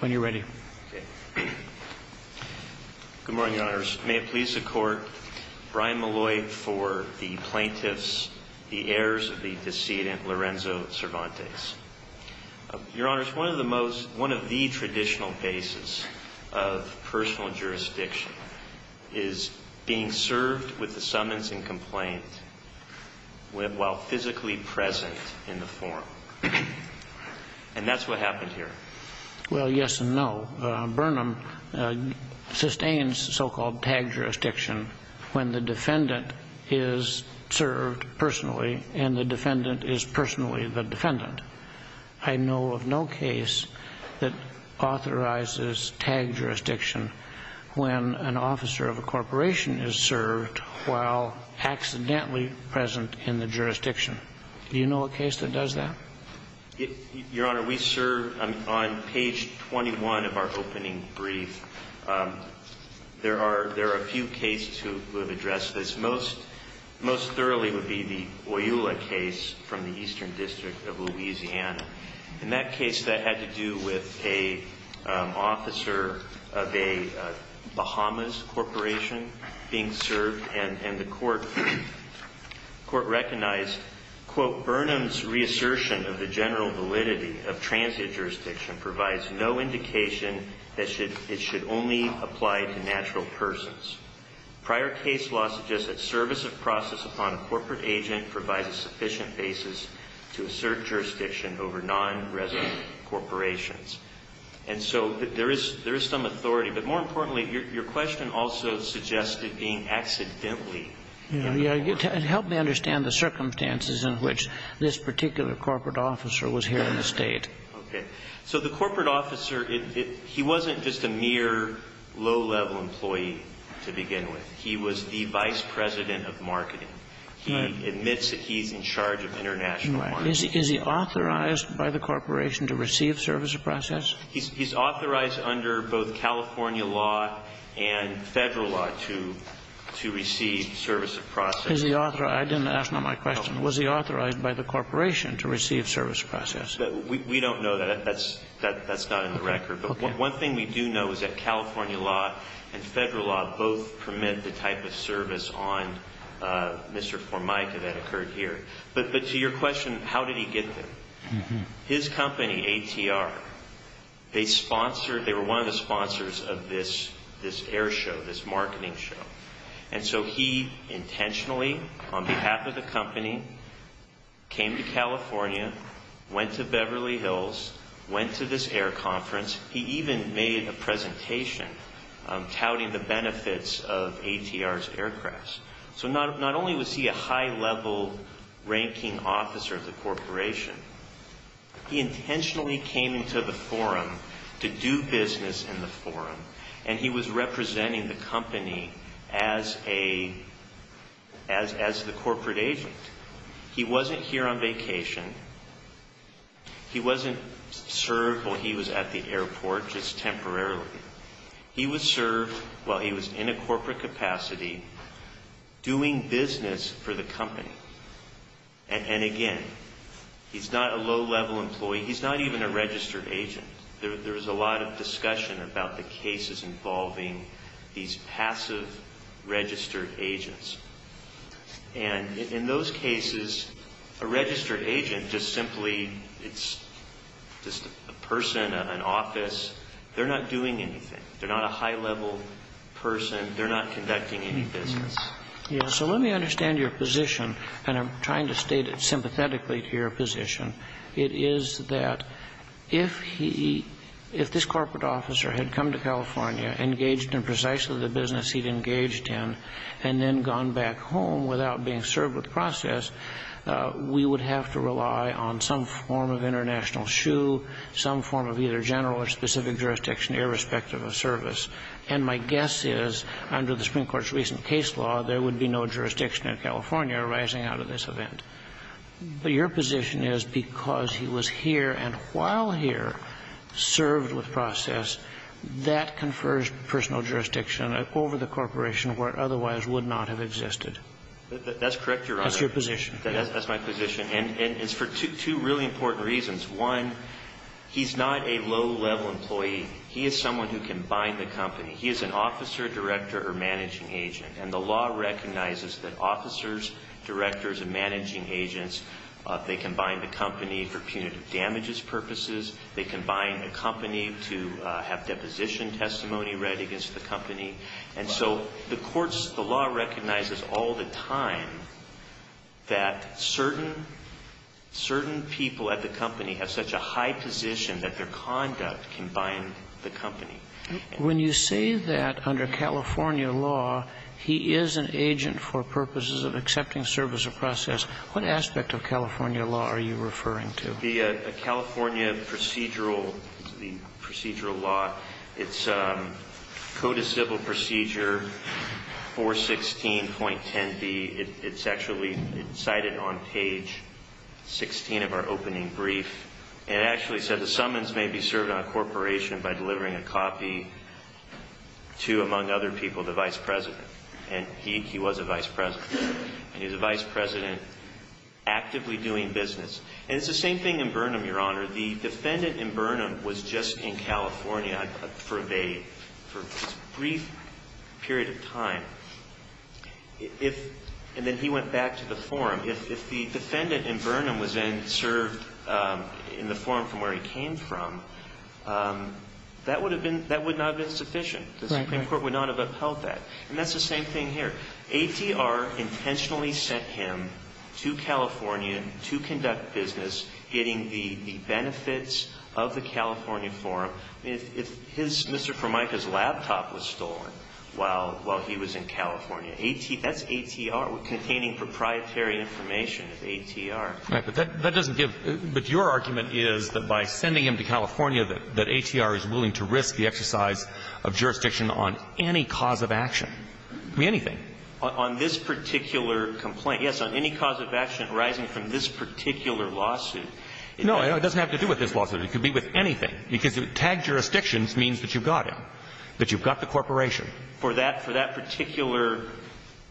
when you're ready good morning honors may it please the court Brian Malloy for the plaintiffs the heirs of the decedent Lorenzo Cervantes your honors one of the most one of the traditional basis of personal jurisdiction is being served with the summons and complaint while physically present in the forum and that's what happened here well yes and no Burnham sustains so-called tag jurisdiction when the defendant is served personally and the defendant is personally the defendant I know of no case that authorizes tag jurisdiction when an officer of a corporation is served while accidentally present in the jurisdiction you know a case that does that your honor we serve on page 21 of our opening brief there are there are a few cases who have addressed this most most thoroughly would be the Oyula case from the Eastern District of Louisiana in that case that had to do with a officer of a Bahamas corporation being served and and the court court recognized quote Burnham's reassertion of the general validity of transient jurisdiction provides no indication that should it should only apply to natural persons prior case law suggests that service of process upon a corporate agent provides a sufficient basis to assert jurisdiction over non-resident corporations and so there is there is some authority but more importantly your question also suggested being accidentally help me understand the circumstances in which this particular corporate officer was here in the state so the corporate officer if he wasn't just a mere low-level employee to begin with he was the vice president of marketing he admits that he's in by the corporation to receive service of process he's authorized under both California law and federal law to to receive service of process is the author I didn't ask not my question was he authorized by the corporation to receive service process we don't know that that's that that's not in the record but one thing we do know is that California law and federal law both permit the type of service on mr. Formica that occurred here but but to your question how did he get his company ATR they sponsored they were one of the sponsors of this this air show this marketing show and so he intentionally on behalf of the company came to California went to Beverly Hills went to this air conference he even made a presentation touting the benefits of ATR's aircrafts so not not only was he a high-level ranking officer of the corporation he intentionally came into the forum to do business in the forum and he was representing the company as a as as the corporate agent he wasn't here on vacation he wasn't served while he was at the airport just temporarily he was served while he was in a corporate capacity doing business for the company and again he's not a low-level employee he's not even a registered agent there's a lot of discussion about the cases involving these passive registered agents and in those cases a registered agent just simply it's just a person an office they're not doing anything they're not conducting any business yeah so let me understand your position and I'm trying to state it sympathetically to your position it is that if he if this corporate officer had come to California engaged in precisely the business he'd engaged in and then gone back home without being served with process we would have to rely on some form of international shoe some form of either general or specific jurisdiction irrespective of service and my guess is under the Supreme Court's recent case law there would be no jurisdiction in California arising out of this event but your position is because he was here and while here served with process that confers personal jurisdiction over the corporation where otherwise would not have existed that's correct your honor that's your position that's my position and it's for two really important reasons one he's not a low-level employee he is someone who can bind the director or managing agent and the law recognizes that officers directors and managing agents they can bind the company for punitive damages purposes they can bind a company to have deposition testimony read against the company and so the courts the law recognizes all the time that certain certain people at the company have such a high position that their conduct can bind the company when you say that under California law he is an agent for purposes of accepting service or process what aspect of California law are you referring to the California procedural the procedural law it's code of civil procedure 416 point 10 B it's actually cited on page 16 of our opening brief it actually said the summons may be served on a corporation by delivering a copy to among other people the vice president and he he was a vice president he was a vice president actively doing business and it's the same thing in Burnham your honor the defendant in Burnham was just in California for a brief period of time if and then he went back to the forum if that would have been that would not have been sufficient the Supreme Court would not have upheld that and that's the same thing here ATR intentionally sent him to California to conduct business getting the benefits of the California forum if his Mr. Formica's laptop was stolen while while he was in California AT that's ATR containing proprietary information of ATR but that doesn't give but your argument is that by sending him to California that that ATR is willing to risk the exercise of jurisdiction on any cause of action be anything on this particular complaint yes on any cause of action arising from this particular lawsuit no it doesn't have to do with this lawsuit it could be with anything because it tagged jurisdictions means that you've got him that you've got the corporation for that for that particular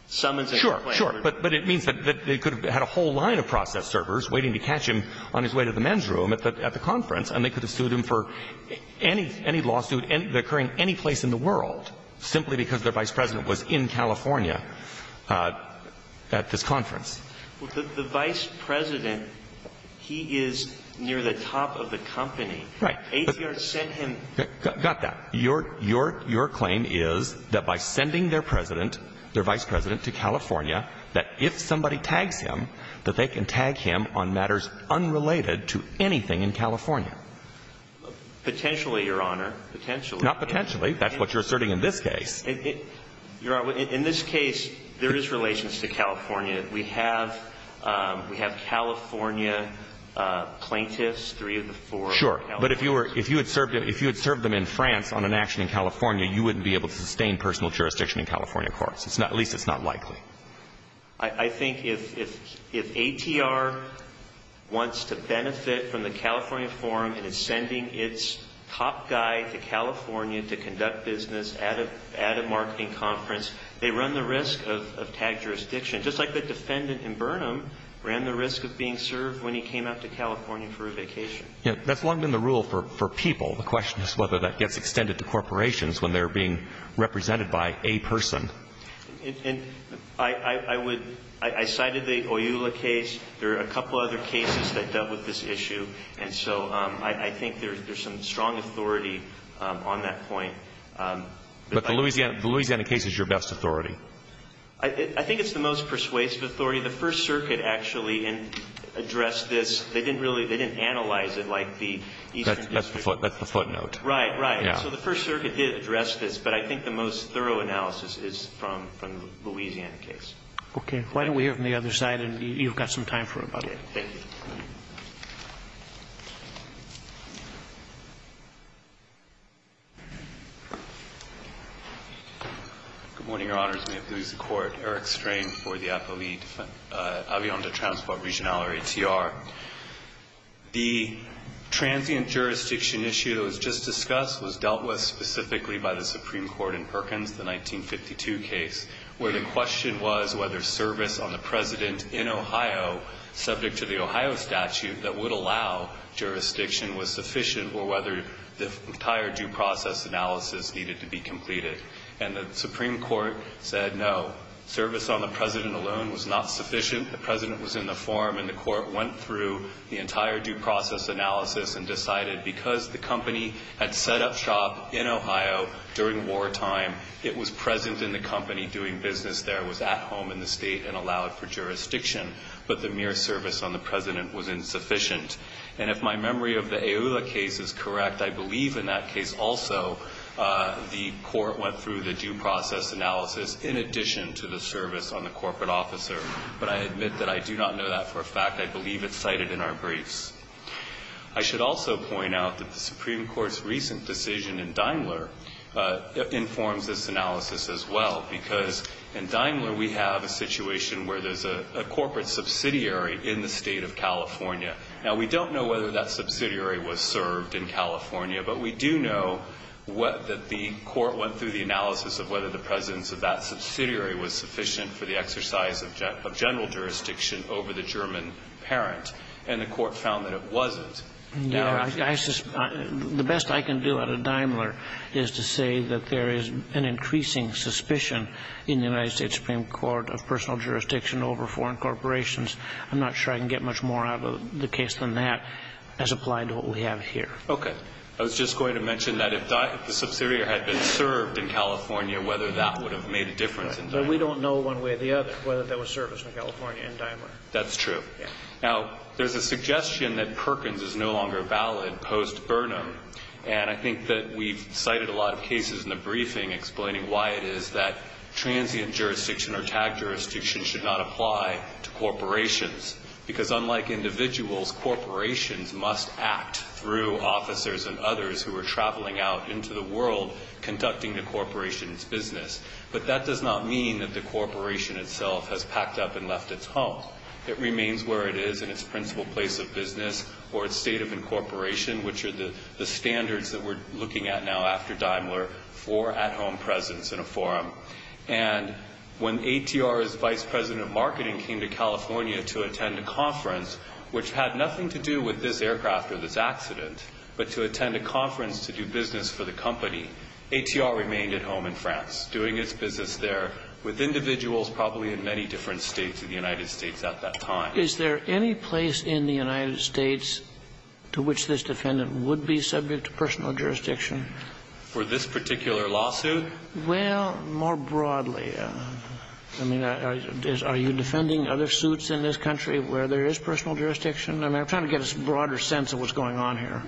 summons sure sure but but it means that they could have had a whole line of process servers waiting to catch him on his way to the men's room at the conference and they could have sued him for any any lawsuit and occurring any place in the world simply because their vice president was in California at this conference the vice president he is near the top of the company right ATR sent him got that your your your claim is that by sending their president their vice president to California that if somebody in California we have we have California plaintiffs three of the four sure but if you were if you had served if you had served them in France on an action in California you wouldn't be able to sustain personal jurisdiction in California courts it's not at least it's not likely I think if if if ATR is willing to risk jurisdiction wants to benefit from the California forum and it's sending its top guy to California to conduct business at a at a marketing conference they run the risk of tag jurisdiction just like the defendant in Burnham ran the risk of being served when he came out to California for a vacation yeah that's long been the rule for people the question is whether that gets extended to corporations when they're being represented by a person and I I would I cited the oil a case there are a couple other cases that dealt with this issue and so I think there's there's some strong authority on that point but the Louisiana Louisiana case is your best authority I think it's the most persuasive authority the First Circuit actually and address this they didn't really they didn't analyze it like the that's the foot that's the footnote right right yeah so the First Circuit did address this but I think the most thorough analysis is from from the Louisiana case okay why don't we have on the other side and you've got some time for about a good morning your honors may have to use the court Eric strain for the appellee avion to transport regional or ATR the transient jurisdiction issue that was just discussed was dealt with specifically by the Supreme Court in Perkins the 1952 case where the question was whether service on the president in Ohio subject to the Ohio statute that would allow jurisdiction was sufficient or whether the entire due process analysis needed to be completed and the Supreme Court said no service on the president alone was not sufficient the president was in the forum and the court went through the entire due process analysis and decided because the court during wartime it was present in the company doing business there was at home in the state and allowed for jurisdiction but the mere service on the president was insufficient and if my memory of the aula case is correct I believe in that case also the court went through the due process analysis in addition to the service on the corporate officer but I admit that I do not know that for a fact I believe it's cited in our briefs I should also point out that the Supreme Court's recent decision in Daimler informs this analysis as well because in Daimler we have a situation where there's a corporate subsidiary in the state of California now we don't know whether that subsidiary was served in California but we do know what that the court went through the analysis of whether the presence of that subsidiary was sufficient for the exercise of general jurisdiction over the German parent and the court found that it wasn't. The best I can do out of Daimler is to say that there is an increasing suspicion in the United States Supreme Court of personal jurisdiction over foreign corporations I'm not sure I can get much more out of the case than that as applied to what we have here. Okay I was just going to mention that if the subsidiary had been served in California whether that would have made a difference in Daimler. But we don't know one way or the other whether there was service in California in Daimler. That's true now there's a suggestion that Perkins is no longer valid post Burnham and I think that we've cited a lot of cases in the briefing explaining why it is that transient jurisdiction or tag jurisdiction should not apply to corporations because unlike individuals corporations must act through officers and others who are traveling out into the world conducting the corporation's business but that does not mean that the corporation itself has packed up and left its home. It remains where it is in its principal place of business or its state of incorporation which are the standards that we're looking at now after Daimler for at home presence in a forum. And when ATR's vice president of marketing came to California to attend a conference which had nothing to do with this aircraft or this accident but to attend a conference to do business for the company ATR remained at home in France doing its business there with individuals probably in many different states of the United States at that time. Is there any place in the United States to which this defendant would be subject to personal jurisdiction? For this particular lawsuit? Well more broadly I mean are you defending other suits in this country where there is personal jurisdiction? I'm trying to get a broader sense of what's going on here.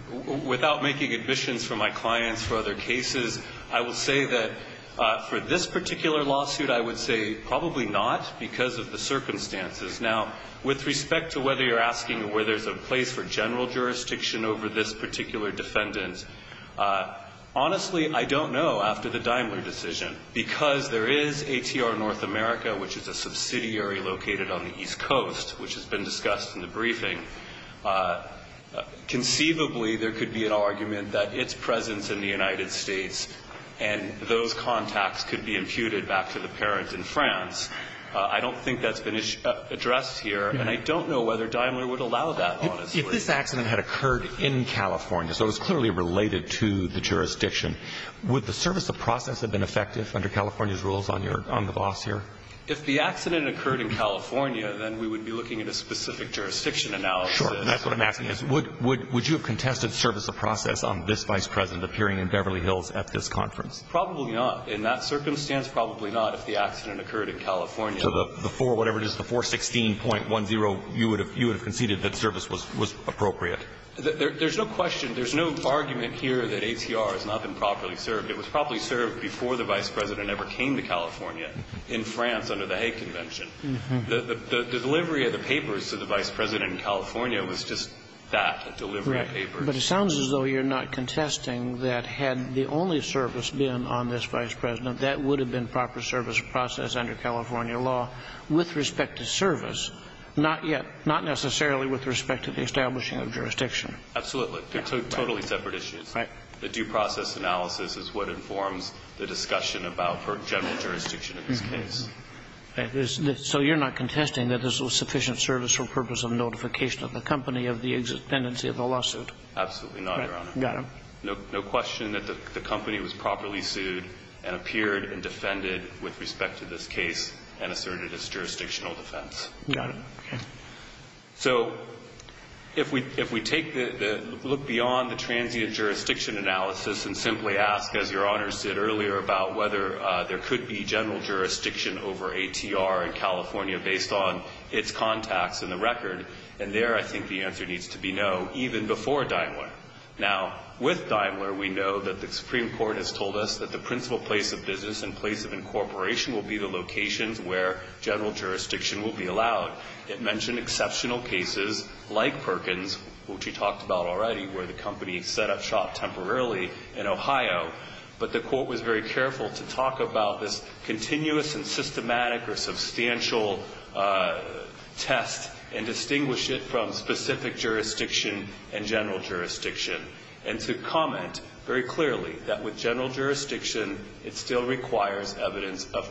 Without making admissions for my clients for other cases I will say that for this particular lawsuit I would say probably not because of the circumstances. Now with respect to whether you're asking where there's a place for general jurisdiction over this particular defendant honestly I don't know after the Daimler decision because there is ATR North America which is a subsidiary located on the East Coast which has been discussed in the briefing. Conceivably there could be an argument that its presence in the United States and those contacts could be imputed back to the parents in France. I don't think that's been addressed here and I don't know whether Daimler would allow that honestly. If this accident had occurred in California so it was clearly related to the jurisdiction would the service of process have been effective under California's rules on the boss here? If the accident occurred in California then we would be looking at a specific jurisdiction analysis. Sure and that's what I'm asking is would you have contested service of process on this vice president appearing in Beverly Hills at this conference? Probably not. In that circumstance probably not if the accident occurred in California. So the 4, whatever it is, the 416.10 you would have conceded that service was appropriate. There's no question, there's no argument here that ATR has not been properly served. It was probably served before the vice president ever came to California in France under the Hague Convention. The delivery of the papers to the vice president in California was just that, a delivery of papers. But it sounds as though you're not contesting that had the only service been on this vice president that would have been proper service of process under California law with respect to service, not necessarily with respect to the establishing of jurisdiction. Absolutely. They're totally separate issues. Right. The due process analysis is what informs the discussion about general jurisdiction in this case. So you're not contesting that this was sufficient service for the purpose of notification of the company of the tendency of the lawsuit? Absolutely not, Your Honor. Got it. No question that the company was properly sued and appeared and defended with respect to this case and asserted its jurisdictional defense. Got it. Okay. So if we take the, look beyond the transient jurisdiction analysis and simply ask, as Your Honors did earlier, about whether there could be general jurisdiction over ATR in California based on its contacts in the record, and there I think the answer needs to be no, even before Daimler. Now, with Daimler, we know that the Supreme Court has told us that the principal place of business and place of incorporation will be the locations where general jurisdiction will be allowed. It mentioned exceptional cases like Perkins, which we talked about already, where the company set up shop temporarily in Ohio. But the court was very careful to talk about this continuous and systematic or substantial test and distinguish it from specific jurisdiction and general jurisdiction. And to comment very clearly that with general jurisdiction, it still requires evidence of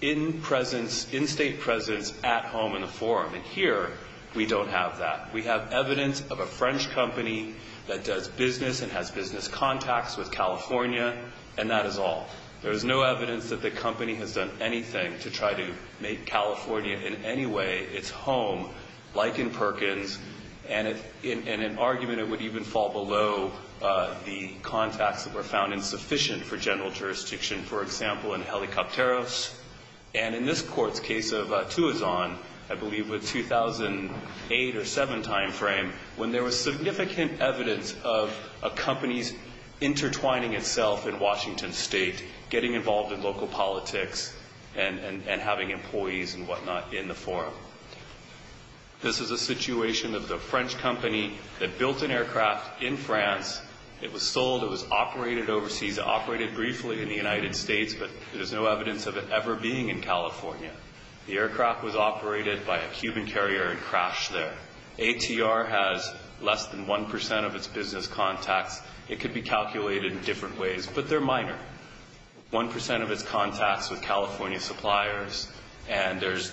in-state presence at home in the forum. And here, we don't have that. We have evidence of a French company that does business and has business contacts with California, and that is all. There is no evidence that the company has done anything to try to make California in any way its home, like in Perkins. And in an argument, it would even fall below the contacts that were found insufficient for general jurisdiction, for example, in Helicopteros. And in this Court's case of Tuazon, I believe with 2008 or 2007 time frame, when there was significant evidence of a company's intertwining itself in Washington State, getting involved in local politics, and having employees and whatnot in the forum. This is a situation of the French company that built an aircraft in France. It was sold. It was operated overseas. It operated briefly in the United States, but there's no evidence of it ever being in California. The aircraft was operated by a Cuban carrier and crashed there. ATR has less than 1% of its business contacts. It could be calculated in different ways, but they're minor, 1% of its contacts with California suppliers. And there's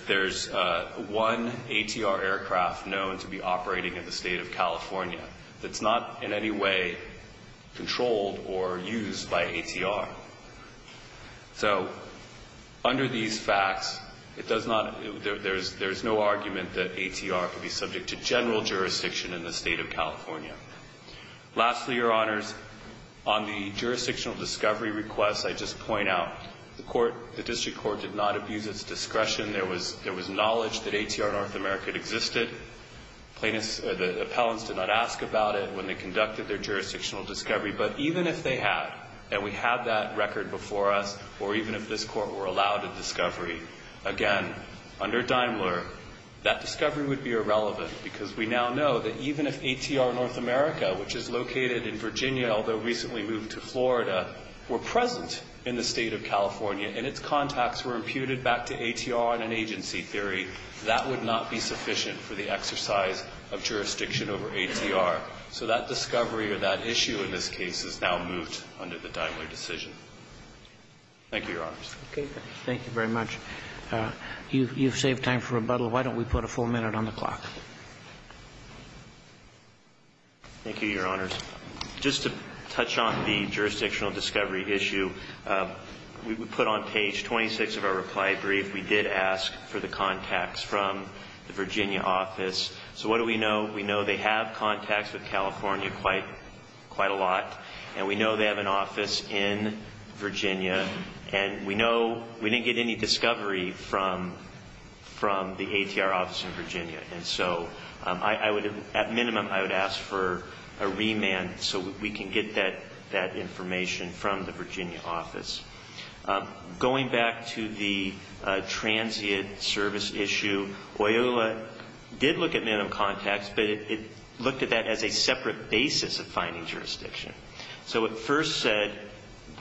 one ATR aircraft known to be operating in the state of California that's not in any way controlled or used by ATR. So under these facts, it does not – there's no argument that ATR could be subject to general jurisdiction in the state of California. Lastly, Your Honors, on the jurisdictional discovery requests, I just point out the District Court did not abuse its discretion. There was knowledge that ATR North America existed. The appellants did not ask about it when they conducted their jurisdictional discovery. But even if they had, and we have that record before us, or even if this Court were allowed a discovery, again, under Daimler, that discovery would be irrelevant because we now know that even if ATR North America, which is located in Virginia, although recently moved to Florida, were present in the state of California and its contacts were imputed back to ATR in an agency theory, that would not be sufficient for the exercise of jurisdiction over ATR. So that discovery or that issue in this case is now moved under the Daimler decision. Thank you, Your Honors. Okay. Thank you very much. You've saved time for rebuttal. Why don't we put a full minute on the clock? Thank you, Your Honors. Just to touch on the jurisdictional discovery issue, we put on page 26 of our reply brief, we did ask for the contacts from the Virginia office. So what do we know? We know they have contacts with California quite a lot, and we know they have an office in Virginia, and we know we didn't get any discovery from the ATR office in Virginia. And so at minimum I would ask for a remand so we can get that information from the Virginia office. Going back to the transient service issue, OYOLA did look at minimum contacts, but it looked at that as a separate basis of finding jurisdiction. So it first said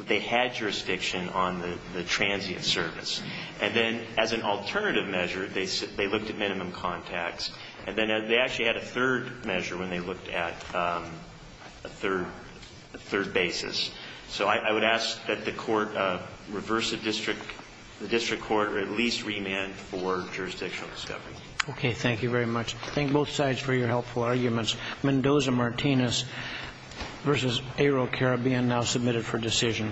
they had jurisdiction on the transient service, and then as an alternative measure they looked at minimum contacts, and then they actually had a third measure when they looked at a third basis. So I would ask that the court reverse the district court or at least remand for jurisdictional discovery. Okay. Thank you very much. Thank both sides for your helpful arguments. Mendoza-Martinez v. Aero Caribbean now submitted for decision.